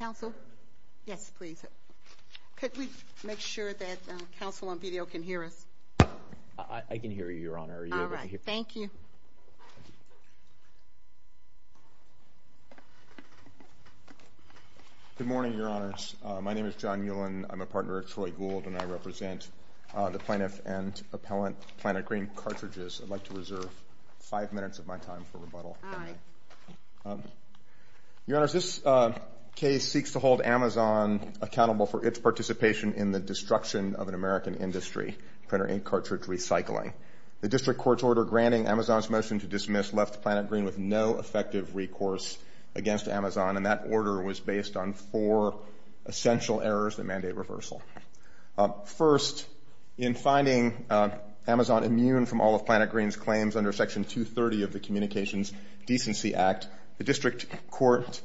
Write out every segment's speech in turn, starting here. Counsel? Yes, please. Could we make sure that counsel on video can hear us? I can hear you, Your Honor. Are you able to hear me? All right. Thank you. Good morning, Your Honors. My name is John Ulan. I'm a partner of Troy Gould, and I represent the plaintiff and appellant, Planet Green Cartridges. I'd like to reserve five minutes of my time for rebuttal. All right. Your Honors, this case seeks to hold Amazon accountable for its participation in the destruction of an American industry, printer ink cartridge recycling. The district court's order granting Amazon's motion to dismiss left Planet Green with no effective recourse against Amazon, and that order was based on four essential errors that mandate reversal. First, in finding Amazon immune from all of Planet Green's claims under Section 230 of the Communications Decency Act, the district court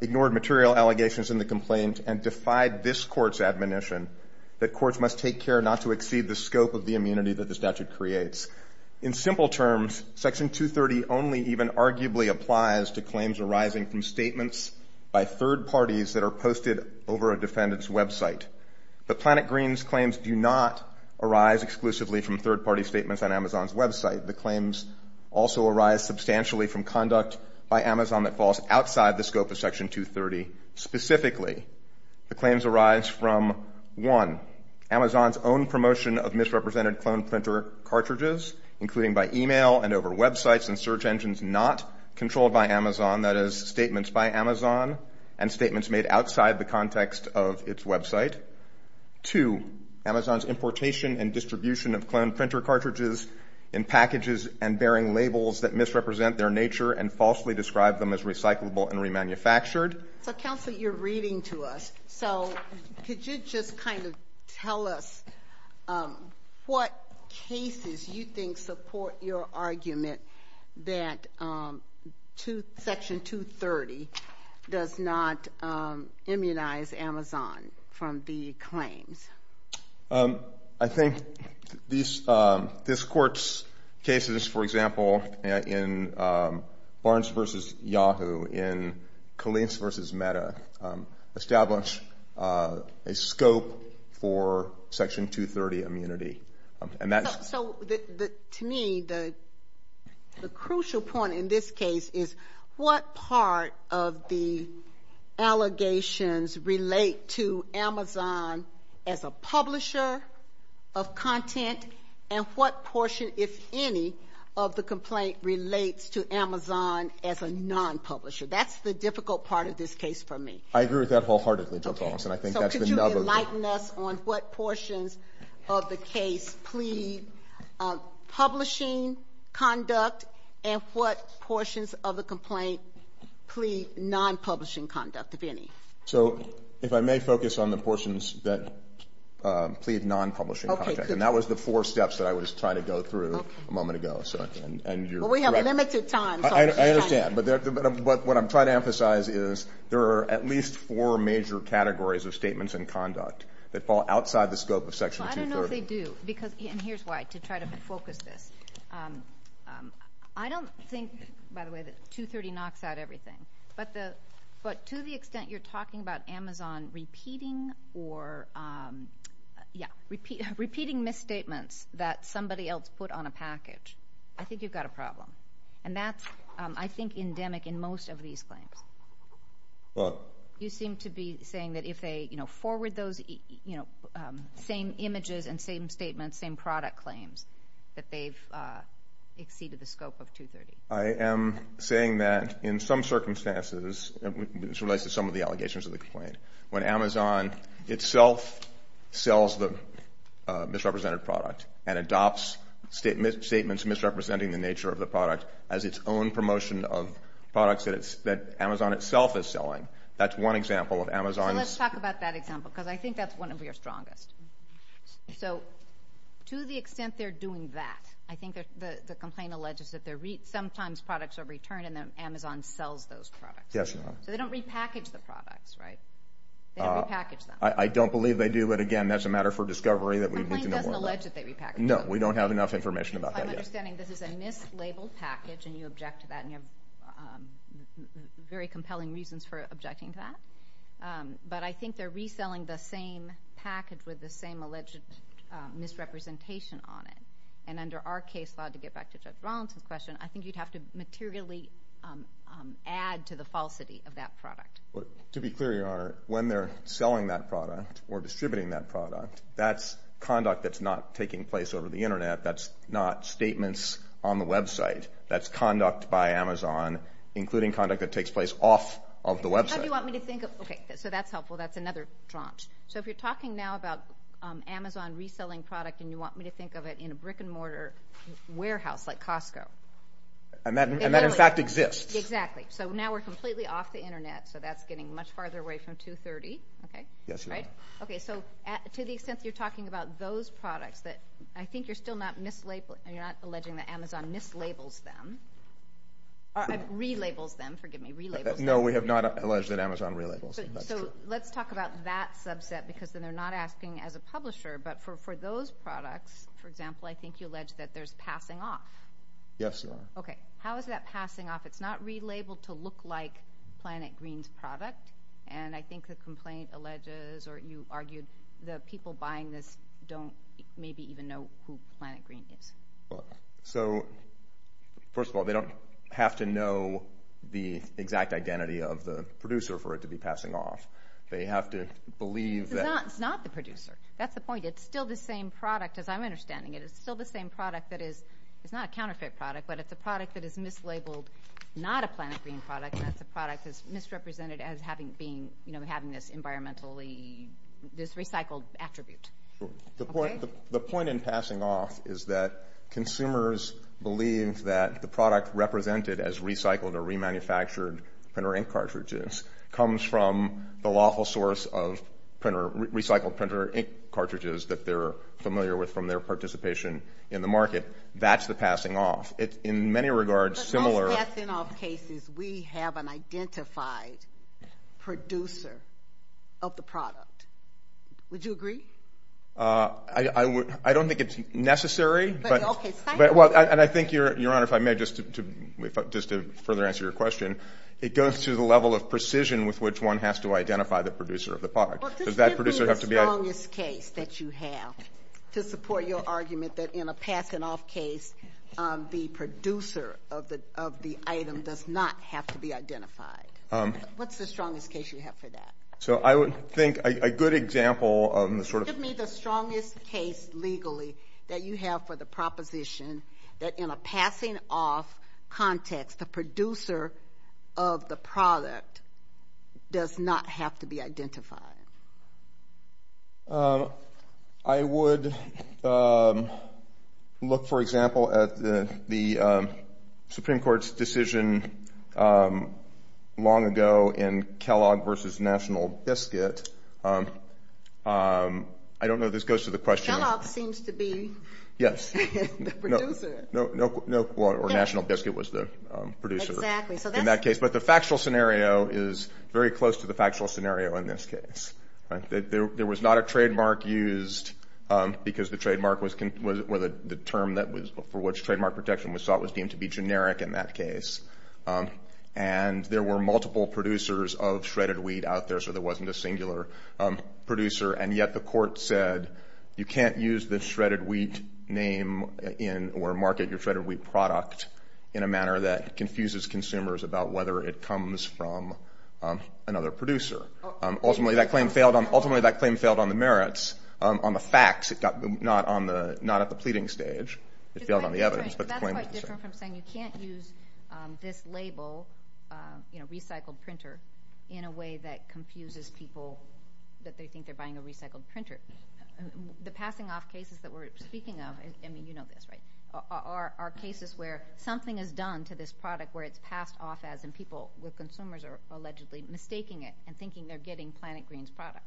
ignored material allegations in the complaint and defied this court's admonition that courts must take care not to exceed the scope of the immunity that the statute creates. In simple terms, Section 230 only even arguably applies to claims arising from statements by third parties that are posted over a defendant's website. But Planet Green's claims do not arise exclusively from third-party statements on Amazon's website. The claims also arise substantially from conduct by Amazon that falls outside the scope of Section 230 specifically. The claims arise from, one, Amazon's own promotion of misrepresented clone printer cartridges, including by email and over websites and search engines not controlled by Amazon, that is, statements by Amazon and statements made outside the context of its website. Two, Amazon's importation and distribution of clone printer cartridges in packages and bearing labels that misrepresent their nature and falsely describe them as recyclable and remanufactured. So, Counselor, you're reading to us, so could you just kind of tell us what cases you think support your argument that Section 230 does not immunize Amazon from the claims? I think this Court's cases, for example, in Barnes v. Yahoo, in Colleen's v. Metta, establish a scope for Section 230 immunity. So, to me, the crucial point in this case is what part of the allegations relate to Amazon as a publisher of content and what portion, if any, of the complaint relates to Amazon as a non-publisher. That's the difficult part of this case for me. I agree with that wholeheartedly, Judge Almstead. So, could you enlighten us on what portions of the case plead publishing conduct and what portions of the complaint plead non-publishing conduct, if any? So, if I may focus on the portions that plead non-publishing conduct. And that was the four steps that I was trying to go through a moment ago, so, and you're Well, we have limited time. I understand, but what I'm trying to emphasize is there are at least four major categories of statements and conduct that fall outside the scope of Section 230. Well, I don't know if they do, and here's why, to try to focus this. I don't think, by the way, that 230 knocks out everything, but to the extent you're talking about Amazon repeating misstatements that somebody else put on a package, I think you've got a problem. And that's, I think, endemic in most of these claims. What? You seem to be saying that if they, you know, forward those, you know, same images and same statements, same product claims, that they've exceeded the scope of 230. I am saying that in some circumstances, and this relates to some of the allegations of the complaint, when Amazon itself sells the misrepresented product and adopts statements misrepresenting the nature of the product as its own promotion of products that Amazon itself is selling. That's one example of Amazon's So let's talk about that example, because I think that's one of your strongest. So to the extent they're doing that, I think the complaint alleges that sometimes products are returned and then Amazon sells those products. Yes, Your Honor. So they don't repackage the products, right? They don't repackage them. I don't believe they do, but again, that's a matter for discovery that we need to know more about. The complaint doesn't allege that they repackage them. No. We don't have enough information about that yet. I'm understanding this is a mislabeled package, and you object to that, and you have very compelling reasons for objecting to that, but I think they're reselling the same package with the same alleged misrepresentation on it. And under our case law, to get back to Judge Rawlinson's question, I think you'd have to materially add to the falsity of that product. To be clear, Your Honor, when they're selling that product or distributing that product, that's conduct that's not taking place over the Internet. That's not statements on the website. That's conduct by Amazon, including conduct that takes place off of the website. How do you want me to think of... Okay, so that's helpful. That's another tranche. So if you're talking now about Amazon reselling product, and you want me to think of it in a brick and mortar warehouse like Costco. And that in fact exists. Exactly. So now we're completely off the Internet, so that's getting much farther away from 230, okay? Yes, Your Honor. All right. Okay, so to the extent that you're talking about those products that I think you're still not alleging that Amazon mislabels them, or relabels them, forgive me, relabels them. No, we have not alleged that Amazon relabels them. That's true. So let's talk about that subset, because then they're not asking as a publisher. But for those products, for example, I think you allege that there's passing off. Yes, Your Honor. Okay. How is that passing off? It's not relabeled to look like Planet Green's product. And I think the complaint alleges, or you argued, the people buying this don't maybe even know who Planet Green is. So first of all, they don't have to know the exact identity of the producer for it to be passing off. They have to believe that It's not the producer. That's the point. It's still the same product, as I'm understanding it. It's still the same product that is not a counterfeit product, but it's a product that is mislabeled not a Planet Green product, and that's a product that's misrepresented as having this environmentally, this recycled attribute. Sure. The point in passing off is that consumers believe that the product represented as recycled or remanufactured printer ink cartridges comes from the lawful source of recycled printer ink cartridges that they're familiar with from their participation in the market. That's the passing off. It's, in many regards, similar. In passing off cases, we have an identified producer of the product. Would you agree? I don't think it's necessary, and I think, Your Honor, if I may, just to further answer your question, it goes to the level of precision with which one has to identify the producer of the product. Does that producer have to be a... Well, just give me the strongest case that you have to support your argument that in a passing off case, the producer of the item does not have to be identified. What's the strongest case you have for that? So I would think a good example of the sort of... Give me the strongest case legally that you have for the proposition that in a passing off context, the producer of the product does not have to be identified. I would look, for example, at the Supreme Court's decision long ago in Kellogg v. National Biscuit. I don't know if this goes to the question... Kellogg seems to be... ...the producer. No, well, or National Biscuit was the producer in that case, but the factual scenario is very close to the factual scenario in this case. There was not a trademark used because the term for which trademark protection was sought was deemed to be generic in that case. And there were multiple producers of shredded wheat out there, so there wasn't a singular producer. And yet the court said, you can't use the shredded wheat name or market your shredded wheat product in a manner that confuses consumers about whether it comes from another producer. Ultimately, that claim failed on the merits, on the facts, not at the pleading stage. It failed on the evidence. But the claim was the same. That's quite different from saying you can't use this label, you know, recycled printer, in a way that confuses people that they think they're buying a recycled printer. The passing off cases that we're speaking of, I mean, you know this, right, are cases where something is done to this product where it's passed off as, and people with consumers are allegedly mistaking it and thinking they're getting Planet Green's product.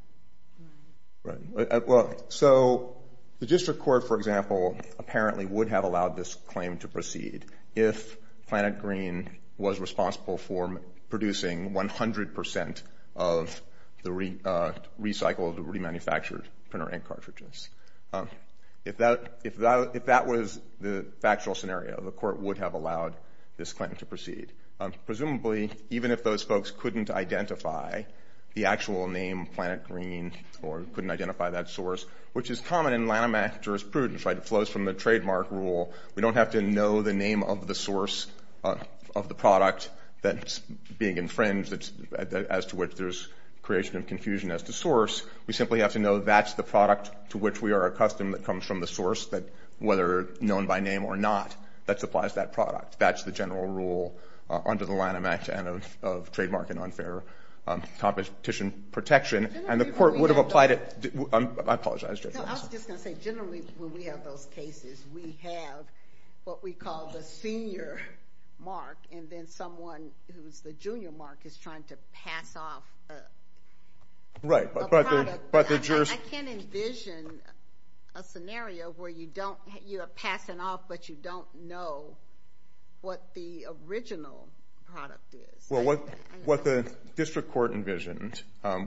Right. Well, so the district court, for example, apparently would have allowed this claim to proceed if Planet Green was responsible for producing 100% of the recycled, remanufactured printer ink cartridges. If that was the factual scenario, the court would have allowed this claim to proceed. Presumably, even if those folks couldn't identify the actual name Planet Green or couldn't identify that source, which is common in Lanham Act jurisprudence, right, it flows from the trademark rule. We don't have to know the name of the source of the product that's being infringed as to which there's creation of confusion as to source. We simply have to know that's the product to which we are accustomed that comes from the source that, whether known by name or not, that supplies that product. That's the general rule under the Lanham Act and of trademark and unfair competition protection. And the court would have applied it, I apologize, Judge. No, I was just going to say, generally, when we have those cases, we have what we call the senior mark, and then someone who's the junior mark is trying to pass off a product I can't envision a scenario where you don't, you are passing off, but you don't know what the original product is. Well, what the district court envisioned,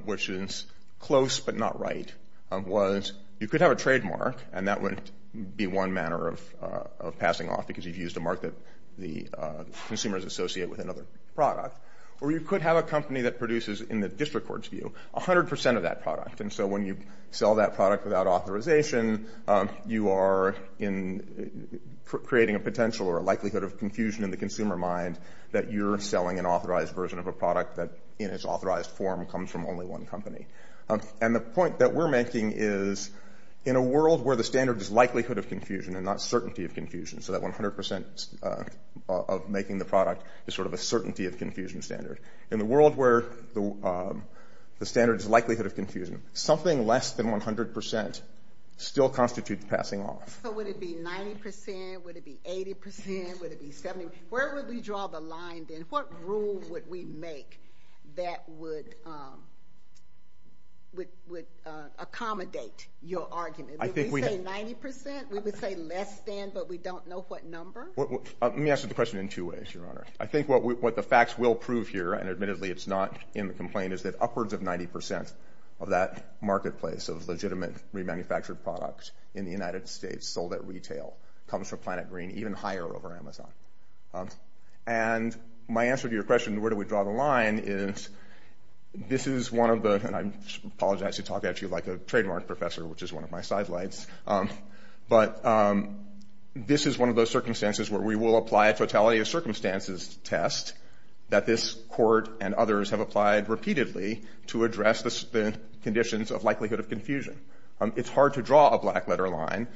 which is close but not right, was you could have a trademark, and that would be one manner of passing off because you've used a mark that the consumers associate with another product, or you could have a company that produces, in the district court's view, 100% of that product. And so when you sell that product without authorization, you are creating a potential or a likelihood of confusion in the consumer mind that you're selling an authorized version of a product that, in its authorized form, comes from only one company. And the point that we're making is, in a world where the standard is likelihood of confusion and not certainty of confusion, so that 100% of making the product is sort of a certainty of confusion standard. In the world where the standard is likelihood of confusion, something less than 100% still constitutes passing off. So would it be 90%, would it be 80%, would it be 70%? Where would we draw the line, then? What rule would we make that would accommodate your argument? I think we have... Would we say 90%? We would say less than, but we don't know what number? Let me answer the question in two ways, Your Honor. I think what the facts will prove here, and admittedly it's not in the complaint, is that upwards of 90% of that marketplace of legitimate remanufactured products in the United States sold at retail comes from Planet Green, even higher over Amazon. And my answer to your question, where do we draw the line, is this is one of the... And I apologize to talk at you like a trademark professor, which is one of my side lights. But this is one of those circumstances where we will apply a totality of circumstances test that this Court and others have applied repeatedly to address the conditions of likelihood of confusion. It's hard to draw a black letter line.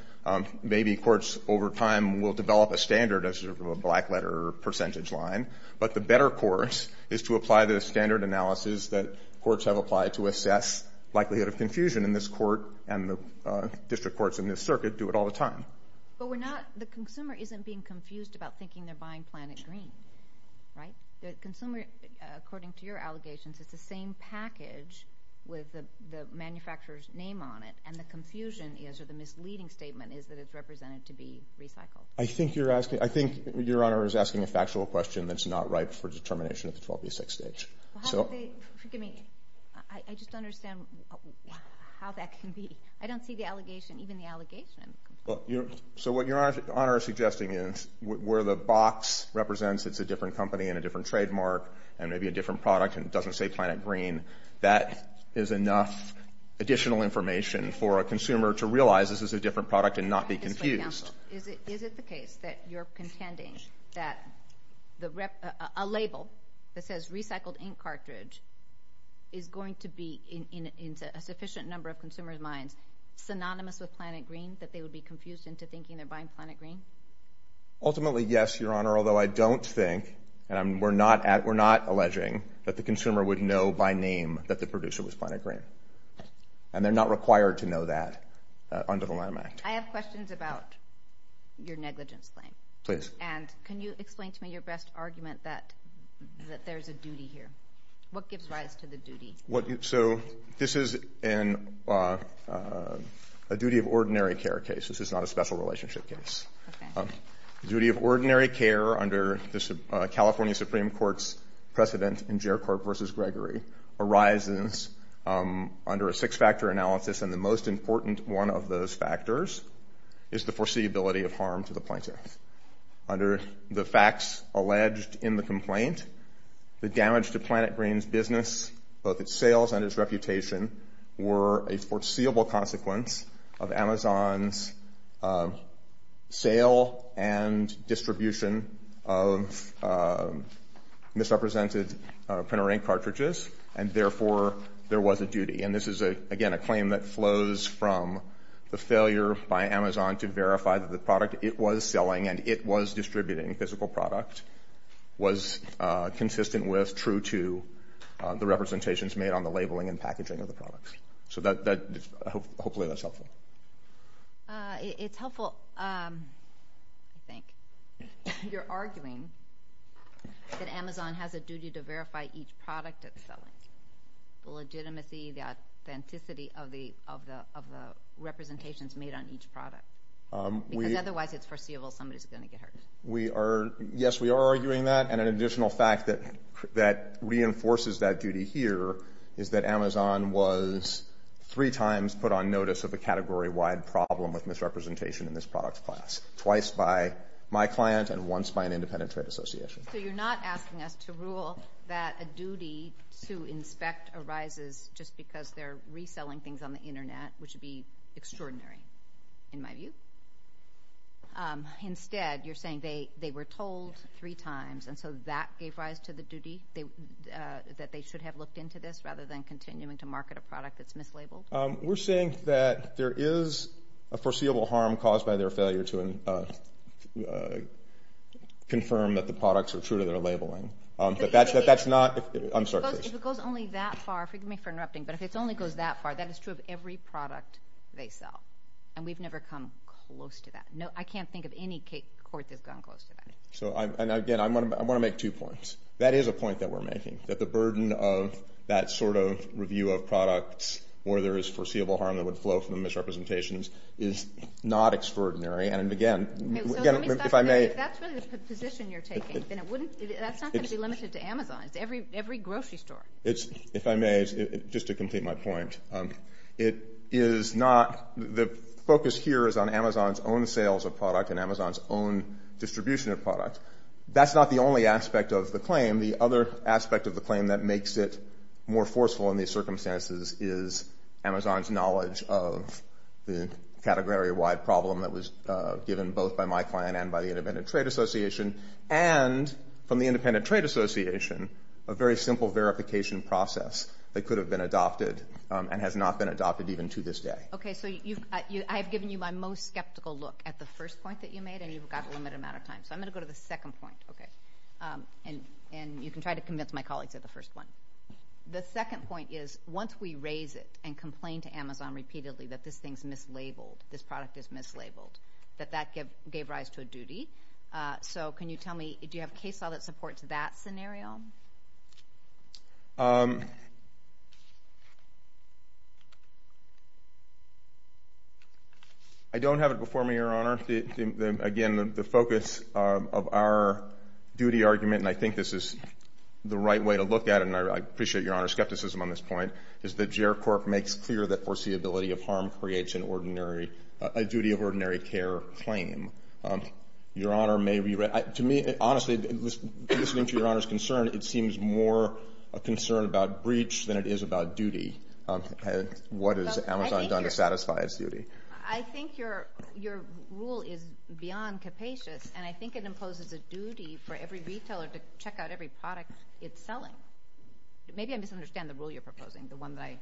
Maybe courts over time will develop a standard as a black letter percentage line, but the better course is to apply the standard analysis that courts have applied to assess and the district courts in this circuit do it all the time. But we're not... The consumer isn't being confused about thinking they're buying Planet Green, right? The consumer, according to your allegations, it's the same package with the manufacturer's name on it, and the confusion is, or the misleading statement is that it's represented to be recycled. I think you're asking... I think Your Honor is asking a factual question that's not ripe for determination at the 12B6 stage. So... Well, how do they... Forgive me. I just don't understand how that can be. I don't see the allegation, even the allegation. So what Your Honor is suggesting is where the box represents it's a different company and a different trademark and maybe a different product and doesn't say Planet Green, that is enough additional information for a consumer to realize this is a different product and not be confused. Your Honor, is it the case that you're contending that a label that says recycled ink cartridge is going to be in a sufficient number of consumers' minds synonymous with Planet Green, that they would be confused into thinking they're buying Planet Green? Ultimately, yes, Your Honor, although I don't think, and we're not alleging, that the consumer would know by name that the producer was Planet Green. And they're not required to know that under the Lanham Act. I have questions about your negligence claim. And can you explain to me your best argument that there's a duty here? What gives rise to the duty? So this is a duty of ordinary care case. This is not a special relationship case. Duty of ordinary care under the California Supreme Court's precedent in Jericho versus Gregory arises under a six-factor analysis, and the most important one of those factors is the foreseeability of harm to the plaintiff. Under the facts alleged in the complaint, the damage to Planet Green's business, both its sales and its reputation, were a foreseeable consequence of Amazon's sale and distribution of misrepresented printer ink cartridges, and therefore, there was a duty. And this is, again, a claim that flows from the failure by Amazon to verify that the product it was selling and it was distributing, physical product, was consistent with, true to, the representations made on the labeling and packaging of the products. So hopefully that's helpful. It's helpful, I think. You're arguing that Amazon has a duty to verify each product it's selling. The legitimacy, the authenticity of the representations made on each product. Because otherwise it's foreseeable somebody's going to get hurt. Yes, we are arguing that. And an additional fact that reinforces that duty here is that Amazon was three times put on notice of a category-wide problem with misrepresentation in this product class. Twice by my client and once by an independent trade association. So you're not asking us to rule that a duty to inspect arises just because they're reselling things on the internet, which would be extraordinary, in my view? Instead, you're saying they were told three times, and so that gave rise to the duty that they should have looked into this rather than continuing to market a product that's mislabeled? We're saying that there is a foreseeable harm caused by their failure to confirm that the products are true to their labeling. If it goes only that far, forgive me for interrupting, but if it only goes that far, that is true of every product they sell. And we've never come close to that. I can't think of any court that's gone close to that. And again, I want to make two points. That is a point that we're making, that the burden of that sort of review of products where there is foreseeable harm that would flow from the misrepresentations is not extraordinary. And again, if I may. If that's really the position you're taking, then that's not going to be limited to Amazon. It's every grocery store. If I may, just to complete my point, it is not the focus here is on Amazon's own sales of product and Amazon's own distribution of product. That's not the only aspect of the claim. The other aspect of the claim that makes it more forceful in these circumstances is Amazon's knowledge of the category-wide problem that was given both by my client and by the Independent Trade Association and from the Independent Trade Association a very simple verification process that could have been adopted and has not been adopted even to this day. Okay, so I've given you my most skeptical look at the first point that you made, and you've got a limited amount of time. So I'm going to go to the second point. Okay. And you can try to convince my colleagues of the first one. The second point is once we raise it and complain to Amazon repeatedly that this thing's mislabeled, this product is mislabeled, that that gave rise to a duty. So can you tell me, do you have case law that supports that scenario? I don't have it before me, Your Honor. Again, the focus of our duty argument, and I think this is the right way to look at it, and I appreciate, Your Honor, skepticism on this point, is that J.R. Corp. makes clear that foreseeability of harm creates an ordinary, a duty of ordinary care claim. Your Honor may be right. To me, honestly, listening to Your Honor's concern, it seems more a concern about breach than it is about duty. What has Amazon done to satisfy its duty? I think your rule is beyond capacious, and I think it imposes a duty for every retailer to check out every product it's selling. Maybe I misunderstand the rule you're proposing, the one that I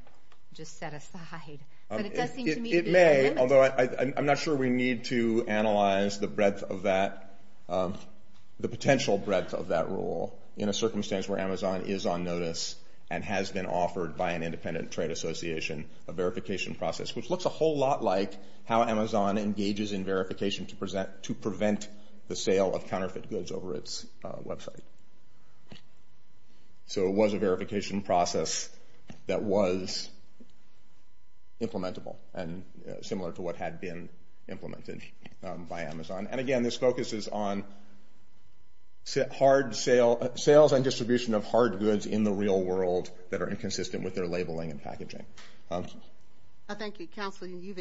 just set aside. It may, although I'm not sure we need to analyze the breadth of that, the potential breadth of that rule in a circumstance where Amazon is on notice and has been offered by an independent trade association a verification process, which looks a whole lot like how Amazon engages in verification to prevent the sale of counterfeit goods over its website. So it was a verification process that was implementable and similar to what had been implemented by Amazon. And again, this focuses on sales and distribution of hard goods in the real world that are inconsistent with their labeling and packaging. Thank you. Counsel, you've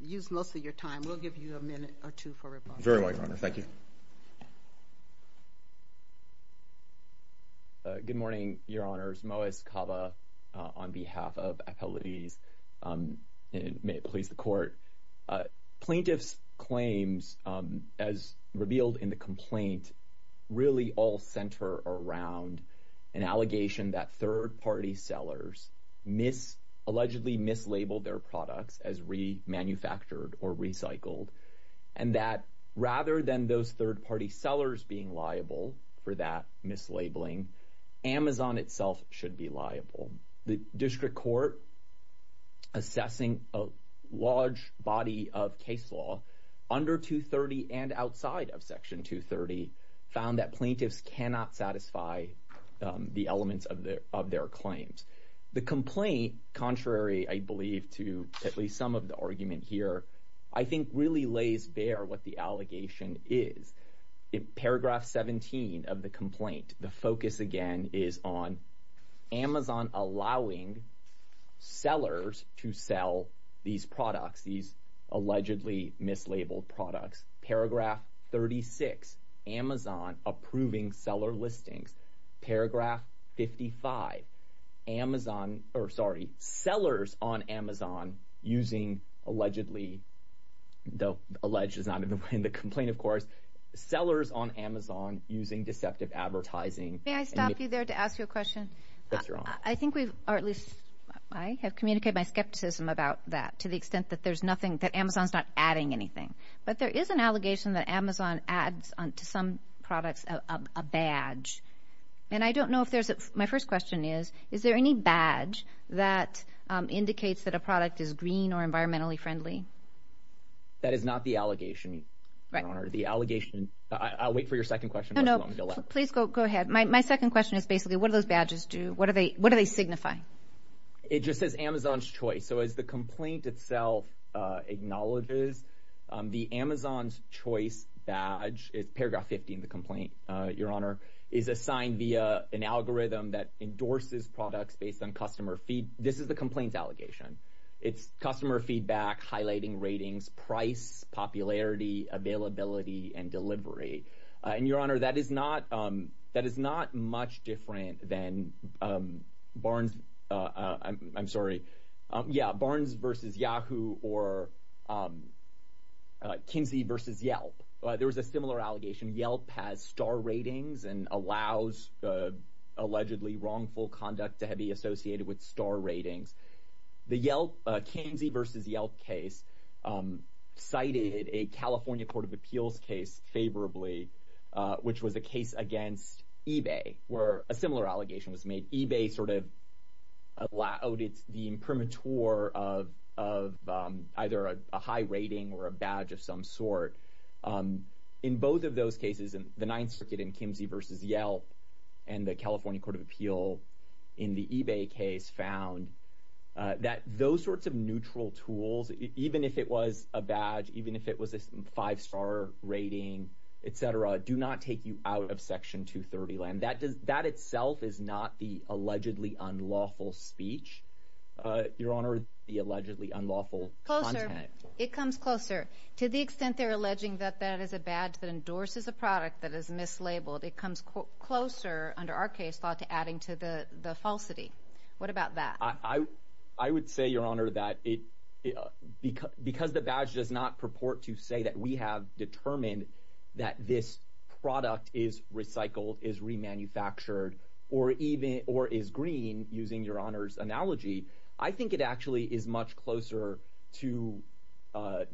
used most of your time. We'll give you a minute or two for rebuttal. Very well, Your Honor. Thank you. Good morning, Your Honors. Moaz Kava on behalf of Appellatees. And may it please the Court. Plaintiffs' claims, as revealed in the complaint, really all center around an allegation that third-party sellers allegedly mislabeled their products as remanufactured or recycled and that rather than those third-party sellers being liable for that mislabeling, Amazon itself should be liable. The district court assessing a large body of case law under 230 and outside of Section 230 found that plaintiffs cannot satisfy the elements of their claims. The complaint, contrary, I believe, to at least some of the argument here, I think really lays bare what the allegation is. In paragraph 17 of the complaint, the focus again is on Amazon allowing sellers to sell these products, these allegedly mislabeled products. Paragraph 36, Amazon approving seller listings. Paragraph 55, Amazon, or sorry, sellers on Amazon using allegedly, though alleged is not in the complaint, of course, sellers on Amazon using deceptive advertising. May I stop you there to ask you a question? Yes, Your Honor. I think we've, or at least I have communicated my skepticism about that to the extent that there's nothing, that Amazon's not adding anything. But there is an allegation that Amazon adds to some products a badge. And I don't know if there's, my first question is, is there any badge that indicates that a product is green or environmentally friendly? That is not the allegation, Your Honor. The allegation, I'll wait for your second question. No, no, please go ahead. My second question is basically what do those badges do? What do they signify? It just says Amazon's choice. So as the complaint itself acknowledges, the Amazon's choice badge, it's paragraph 50 in the complaint, Your Honor, is assigned via an algorithm that endorses products based on customer feed. This is the complaint's allegation. It's customer feedback, highlighting ratings, price, popularity, availability, and delivery. And Your Honor, that is not much different than Barnes, I'm sorry, Barnes versus Yahoo or Kinsey versus Yelp. There was a similar allegation. Yelp has star ratings and allows allegedly wrongful conduct to be associated with star ratings. The Kinsey versus Yelp case cited a California Court of Appeals case favorably, which was a case against eBay where a similar allegation was made. eBay sort of outed the imprimatur of either a high rating or a badge of some sort. In both of those cases, the Ninth Circuit in Kinsey versus Yelp and the California Court of Appeals in the eBay case found that those sorts of neutral tools, even if it was a badge, even if it was a five-star rating, et cetera, do not take you out of Section 230 land. That itself is not the allegedly unlawful speech, Your Honor, the allegedly unlawful content. Closer. It comes closer. To the extent they're alleging that that is a badge that endorses a product that is mislabeled, it comes closer under our case law to adding to the falsity. What about that? I would say, Your Honor, that because the badge does not purport to say that we have determined that this product is recycled, is remanufactured, or is green, using Your Honor's analogy, I think it actually is much closer to what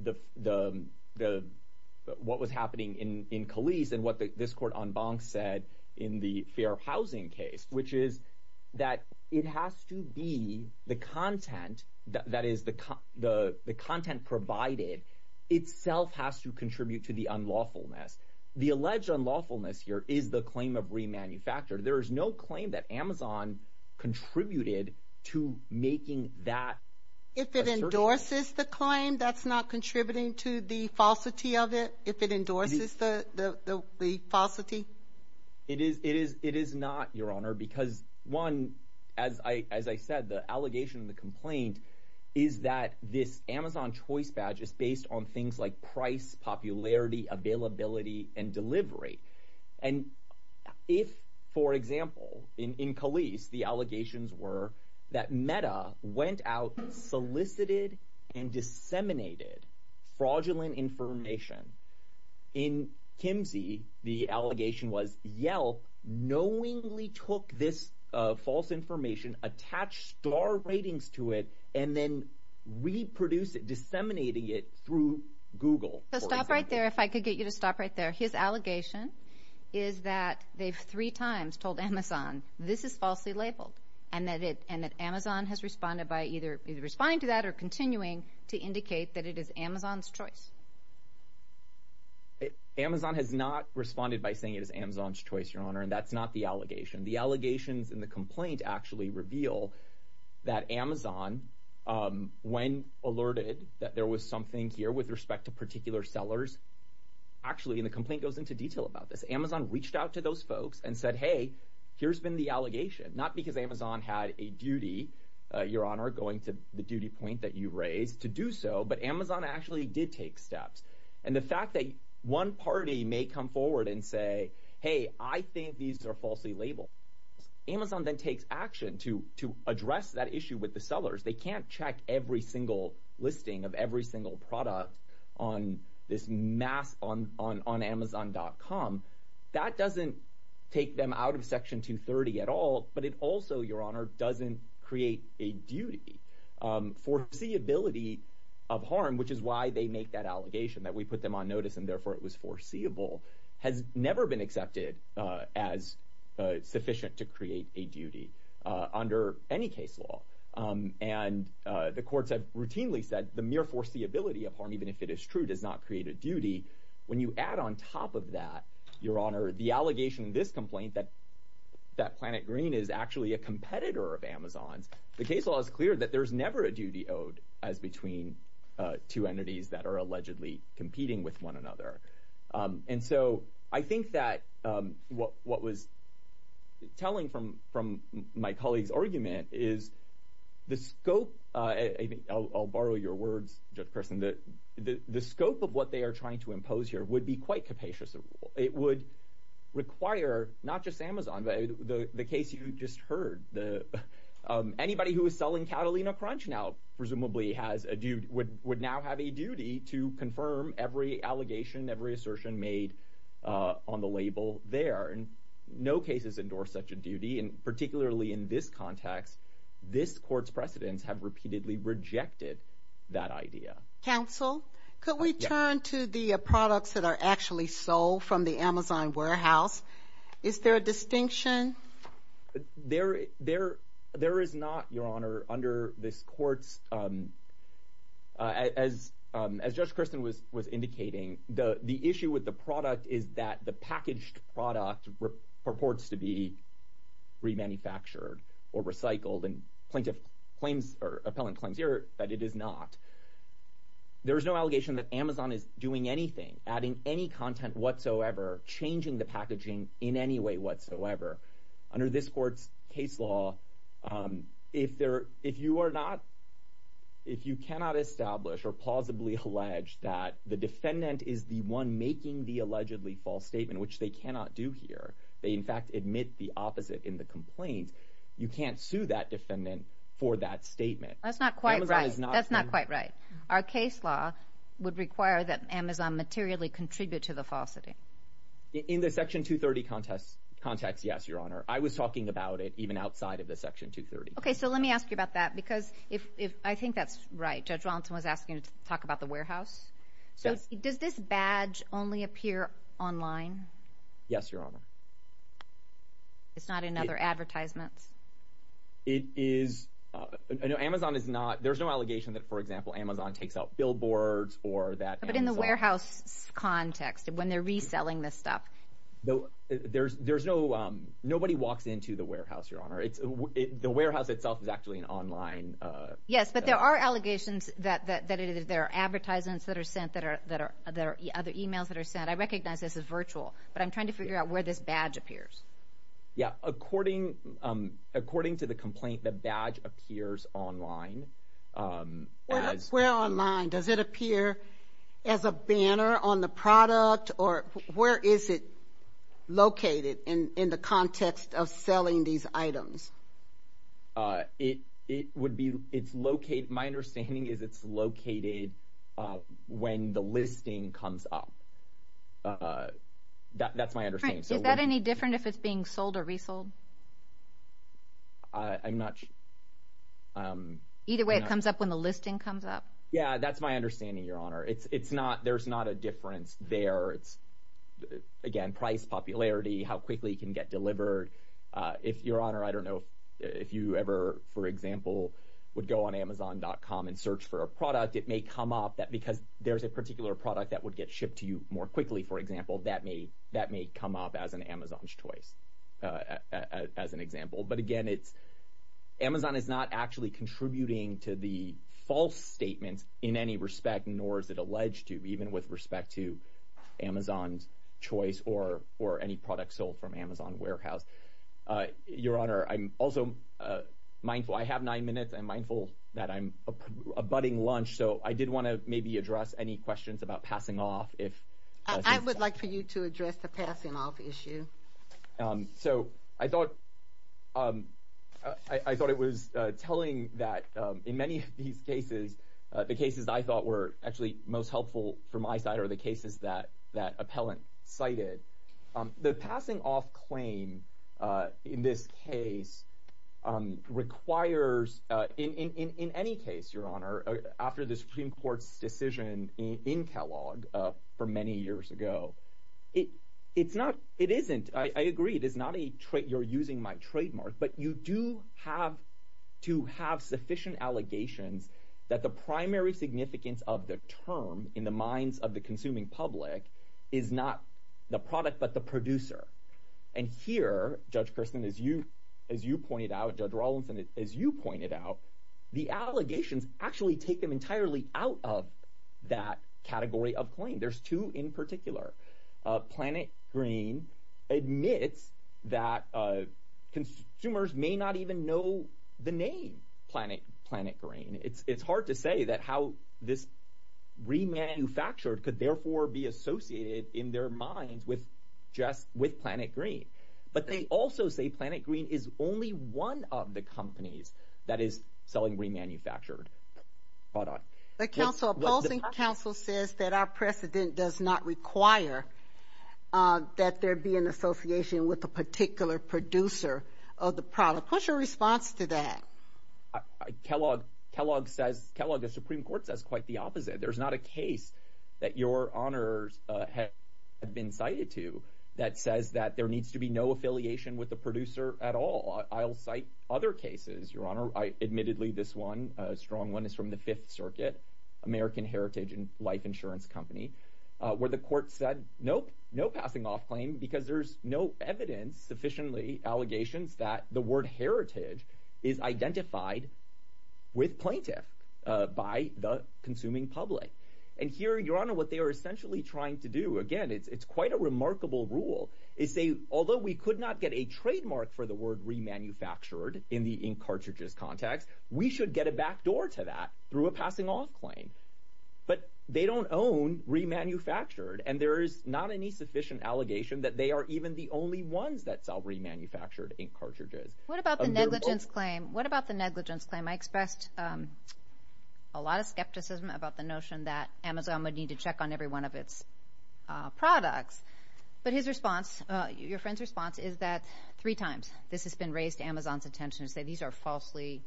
was happening in Calise and what this court en banc said in the Fair Housing case, which is that it has to be the content, that is the content provided, itself has to contribute to the unlawfulness. The alleged unlawfulness here is the claim of remanufactured. There is no claim that Amazon contributed to making that assertion. If it endorses the claim, that's not contributing to the falsity of it? If it endorses the falsity? It is not, Your Honor, because, one, as I said, the allegation and the complaint is that this Amazon Choice badge is based on things like price, popularity, availability, and delivery. And if, for example, in Calise, the allegations were that Meta went out, solicited, and disseminated fraudulent information, in Kimsey, the allegation was Yelp knowingly took this false information, attached star ratings to it, and then reproduced it, disseminating it through Google. Stop right there, if I could get you to stop right there. His allegation is that they've three times told Amazon, this is falsely labeled, and that Amazon has responded by either responding to that or continuing to indicate that it is Amazon's choice. Amazon has not responded by saying it is Amazon's choice, Your Honor, and that's not the allegation. The allegations in the complaint actually reveal that Amazon, when alerted that there was something here with respect to particular sellers, actually, and the complaint goes into detail about this, Amazon reached out to those folks and said, hey, here's been the allegation, not because Amazon had a duty, Your Honor, going to the duty point that you raised, to do so, but Amazon actually did take steps. And the fact that one party may come forward and say, hey, I think these are falsely labeled. Amazon then takes action to address that issue with the sellers. They can't check every single listing of every single product on this mass, on Amazon.com. That doesn't take them out of Section 230 at all, but it also, Your Honor, doesn't create a duty. Foreseeability of harm, which is why they make that allegation, that we put them on notice and therefore it was foreseeable, has never been accepted as sufficient to create a duty under any case law. And the courts have routinely said the mere foreseeability of harm, even if it is true, does not create a duty. When you add on top of that, Your Honor, the allegation in this complaint that Planet Green is actually a competitor of Amazon's, the case law is clear that there's never a duty owed as between two entities that are allegedly competing with one another. And so I think that what was telling from my colleague's argument is the scope, I'll borrow your words, Judge Kirsten, the scope of what they are trying to impose here would be quite capacious. It would require not just Amazon, the case you just heard, anybody who is selling Catalina Crunch now presumably has a duty, would now have a duty to confirm every allegation, every assertion made on the label there. No case has endorsed such a duty, and particularly in this context, this court's precedents have repeatedly rejected that idea. Counsel, could we turn to the products that are actually sold from the Amazon warehouse? Is there a distinction? There is not, Your Honor, under this court's, as Judge Kirsten was indicating, the issue with the product is that the packaged product purports to be manufactured or recycled, and plaintiff claims or appellant claims here that it is not. There is no allegation that Amazon is doing anything, adding any content whatsoever, changing the packaging in any way whatsoever. Under this court's case law, if you cannot establish or plausibly allege that the defendant is the one making the allegedly false statement, which they cannot do here, they in fact admit the opposite in the complaint, you can't sue that defendant for that statement. That's not quite right. That's not quite right. Our case law would require that Amazon materially contribute to the falsity. In the Section 230 context, yes, Your Honor. I was talking about it even outside of the Section 230. Okay, so let me ask you about that, because I think that's right. Judge Walton was asking to talk about the warehouse. Does this badge only appear online? Yes, Your Honor. It's not in other advertisements? It is. Amazon is not. There's no allegation that, for example, Amazon takes out billboards or that Amazon. But in the warehouse context, when they're reselling this stuff. There's no. Nobody walks into the warehouse, Your Honor. The warehouse itself is actually an online. Yes, but there are allegations that there are advertisements that are sent, that there are other e-mails that are sent. I recognize this is virtual, but I'm trying to figure out where this badge appears. Yeah, according to the complaint, the badge appears online. Where online? Does it appear as a banner on the product, or where is it located in the context of selling these items? My understanding is it's located when the listing comes up. That's my understanding. Is that any different if it's being sold or resold? I'm not sure. Either way, it comes up when the listing comes up. Yeah, that's my understanding, Your Honor. There's not a difference there. Again, price, popularity, how quickly it can get delivered. Your Honor, I don't know if you ever, for example, would go on Amazon.com and search for a product. It may come up because there's a particular product that would get shipped to you more quickly, for example. That may come up as an Amazon's choice, as an example. But again, Amazon is not actually contributing to the false statements in any respect, nor is it alleged to, even with respect to Amazon's choice or any product sold from Amazon warehouse. Your Honor, I'm also mindful. I have nine minutes. I'm mindful that I'm abutting lunch, so I did want to maybe address any questions about passing off. I would like for you to address the passing off issue. So I thought it was telling that in many of these cases, the cases I thought were actually most helpful for my side are the cases that appellant cited. The passing off claim in this case requires, in any case, Your Honor, after the Supreme Court's decision in Kellogg for many years ago, it isn't, I agree, you're using my trademark, but you do have to have sufficient allegations that the primary significance of the term in the minds of the consuming public is not the product but the producer. And here, Judge Kirsten, as you pointed out, Judge Rawlinson, as you pointed out, the allegations actually take them entirely out of that category of claim. There's two in particular. Planet Green admits that consumers may not even know the name Planet Green. It's hard to say that how this remanufactured could, therefore, be associated in their minds with just with Planet Green. But they also say Planet Green is only one of the companies that is selling remanufactured product. The opposing counsel says that our precedent does not require that there be an association with a particular producer of the product. What's your response to that? Kellogg says, Kellogg, the Supreme Court says quite the opposite. There's not a case that Your Honor has been cited to that says that there needs to be no affiliation with the producer at all. I'll cite other cases, Your Honor. Admittedly, this one, a strong one, is from the Fifth Circuit, American Heritage and Life Insurance Company, where the court said, nope, no passing off claim because there's no evidence, sufficiently, allegations that the word heritage is identified with plaintiff by the consuming public. And here, Your Honor, what they are essentially trying to do, again, it's quite a remarkable rule, is say, although we could not get a trademark for the word remanufactured in the ink cartridges context, we should get a backdoor to that through a passing off claim. But they don't own remanufactured, and there is not any sufficient allegation that they are even the only ones that sell remanufactured ink cartridges. What about the negligence claim? What about the negligence claim? I expressed a lot of skepticism about the notion that Amazon would need to check on every one of its products. But his response, your friend's response, is that three times this has been raised to Amazon's attention to say these are falsely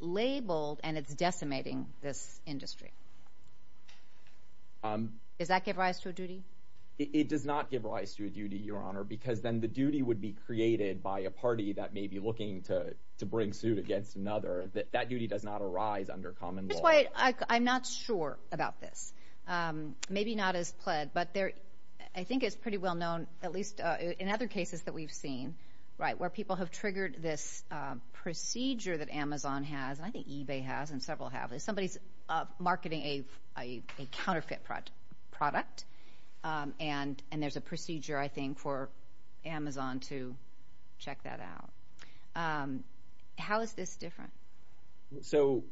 labeled and it's decimating this industry. Does that give rise to a duty? It does not give rise to a duty, Your Honor, because then the duty would be created by a party that may be looking to bring suit against another. That duty does not arise under common law. That's why I'm not sure about this, maybe not as pled, but I think it's pretty well known, at least in other cases that we've seen, where people have triggered this procedure that Amazon has, and I think eBay has, and several have. Somebody's marketing a counterfeit product, and there's a procedure, I think, for Amazon to check that out. How is this different? So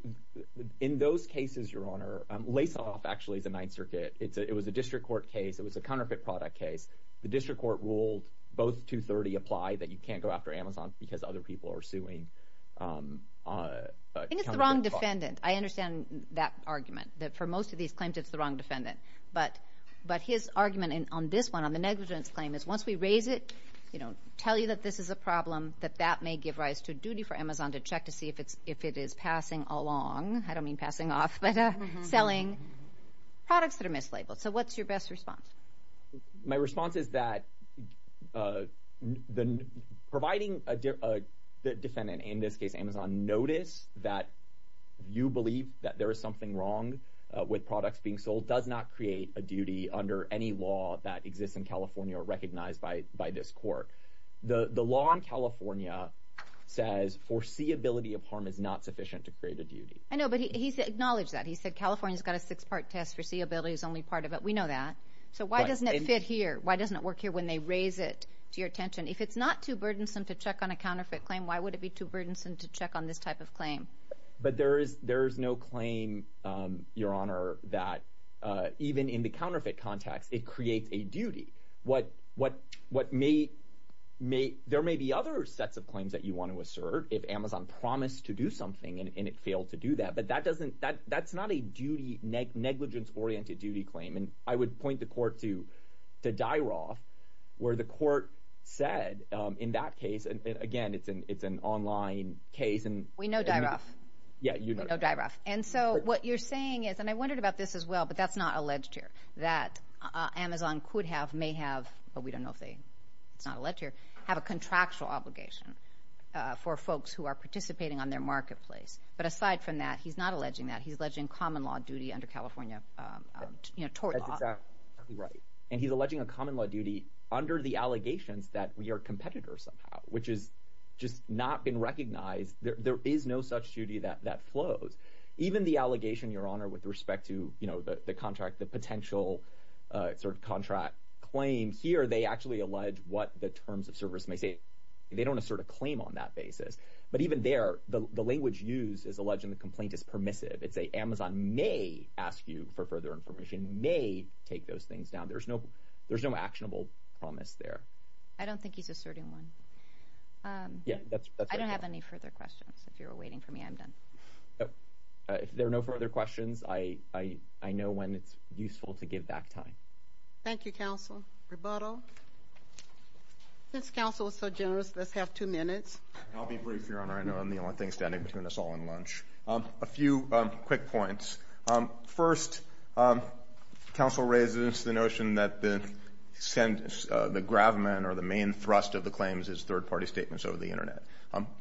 in those cases, Your Honor, lace-off actually is a Ninth Circuit. It was a district court case. It was a counterfeit product case. The district court ruled both 230 apply, that you can't go after Amazon because other people are suing a counterfeit product. I think it's the wrong defendant. I understand that argument, that for most of these claims it's the wrong defendant. But his argument on this one, on the negligence claim, is once we raise it, tell you that this is a problem, that that may give rise to a duty for Amazon to check to see if it is passing along. I don't mean passing off, but selling products that are mislabeled. So what's your best response? My response is that providing the defendant, in this case Amazon, notice that you believe that there is something wrong with products being sold does not create a duty under any law that exists in California or recognized by this court. The law in California says foreseeability of harm is not sufficient to create a duty. I know, but he acknowledged that. He said California's got a six-part test. Foreseeability is only part of it. We know that. So why doesn't it fit here? Why doesn't it work here when they raise it to your attention? If it's not too burdensome to check on a counterfeit claim, why would it be too burdensome to check on this type of claim? But there is no claim, Your Honor, that even in the counterfeit context, it creates a duty. There may be other sets of claims that you want to assert if Amazon promised to do something and it failed to do that, but that's not a negligence-oriented duty claim. And I would point the court to Dyroff where the court said in that case, and again, it's an online case. We know Dyroff. Yeah, you know Dyroff. And so what you're saying is, and I wondered about this as well, but that's not alleged here, that Amazon could have, may have, but we don't know if it's not alleged here, have a contractual obligation for folks who are participating on their marketplace. But aside from that, he's not alleging that. He's alleging common law duty under California tort law. That's exactly right. And he's alleging a common law duty under the allegations that we are competitors somehow, which has just not been recognized. There is no such duty that flows. Even the allegation, Your Honor, with respect to the contract, the potential sort of contract claim here, they actually allege what the terms of service may say. They don't assert a claim on that basis. But even there, the language used is alleging the complaint is permissive. It's a Amazon may ask you for further information, may take those things down. There's no actionable promise there. I don't think he's asserting one. I don't have any further questions. If you're waiting for me, I'm done. If there are no further questions, I know when it's useful to give back time. Thank you, counsel. Rebuttal. This counsel is so generous, let's have two minutes. I'll be brief, Your Honor. I know I'm the only thing standing between us all and lunch. A few quick points. First, counsel raises the notion that the gravamen or the main thrust of the claims is third-party statements over the Internet.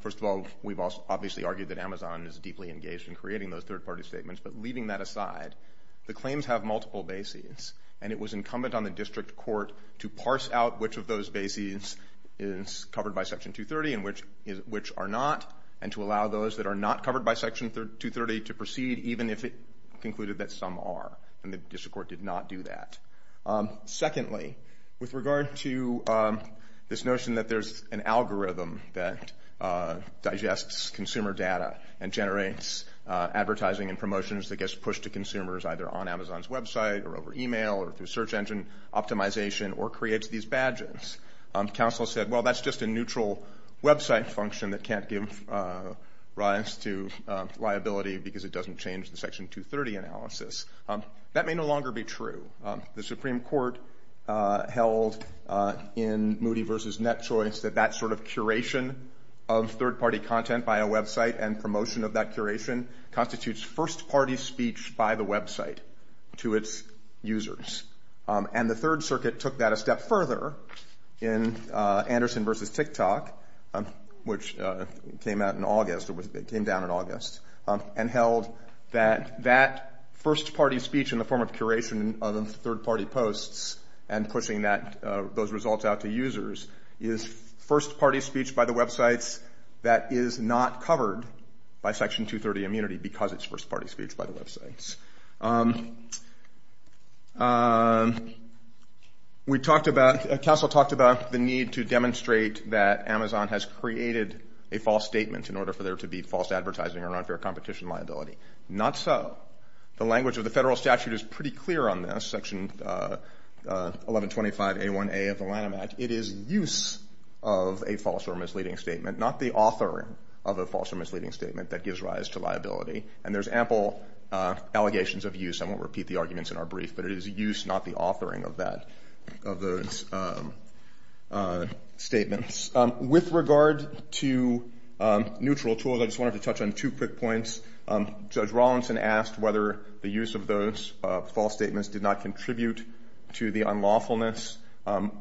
First of all, we've obviously argued that Amazon is deeply engaged in creating those third-party statements. But leaving that aside, the claims have multiple bases, and it was incumbent on the district court to parse out which of those bases is covered by Section 230 and which are not, and to allow those that are not covered by Section 230 to proceed, even if it concluded that some are. And the district court did not do that. Secondly, with regard to this notion that there's an algorithm that digests consumer data and generates advertising and promotions that gets pushed to consumers, either on Amazon's website or over email or through search engine optimization or creates these badges, counsel said, well, that's just a neutral website function that can't give rise to liability because it doesn't change the Section 230 analysis. That may no longer be true. The Supreme Court held in Moody v. Net Choice that that sort of curation of third-party content by a website and promotion of that curation constitutes first-party speech by the website to its users. And the Third Circuit took that a step further in Anderson v. TikTok, which came out in August or came down in August, and held that that first-party speech in the form of curation of third-party posts and pushing those results out to users is first-party speech by the websites that is not covered by Section 230 immunity because it's first-party speech by the websites. Counsel talked about the need to demonstrate that Amazon has created a false statement in order for there to be false advertising or unfair competition liability. Not so. The language of the federal statute is pretty clear on this, Section 1125a1a of the Lanham Act. It is use of a false or misleading statement, not the authoring of a false or misleading statement that gives rise to liability. And there's ample allegations of use. I won't repeat the arguments in our brief, but it is use, not the authoring of that, of those statements. With regard to neutral tools, I just wanted to touch on two quick points. Judge Rawlinson asked whether the use of those false statements did not contribute to the unlawfulness.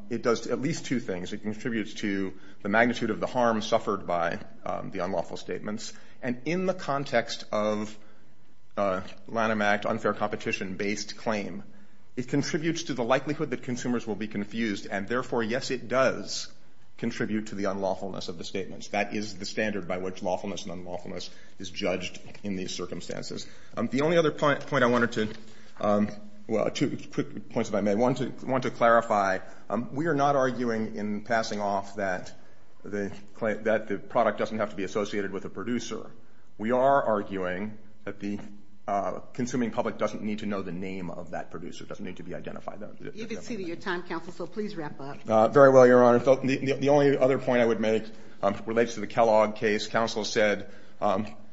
It does at least two things. It contributes to the magnitude of the harm suffered by the unlawful statements. And in the context of Lanham Act unfair competition-based claim, it contributes to the likelihood that consumers will be confused. And therefore, yes, it does contribute to the unlawfulness of the statements. That is the standard by which lawfulness and unlawfulness is judged in these circumstances. The only other point I wanted to – well, two quick points, if I may. One, to clarify, we are not arguing in passing off that the product doesn't have to be a producer. We are arguing that the consuming public doesn't need to know the name of that producer, doesn't need to be identified. You've exceeded your time, counsel, so please wrap up. Very well, Your Honor. The only other point I would make relates to the Kellogg case. Counsel said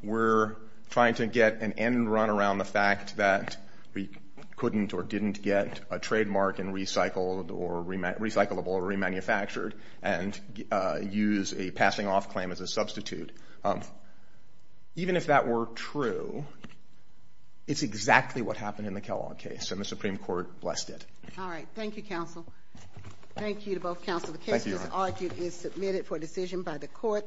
we're trying to get an end run around the fact that we couldn't or didn't get a trademark and recycled or recyclable or remanufactured and use a passing off claim as a substitute. Even if that were true, it's exactly what happened in the Kellogg case, and the Supreme Court blessed it. All right. Thank you, counsel. Thank you to both counsel. The case, as argued, is submitted for decision by the court.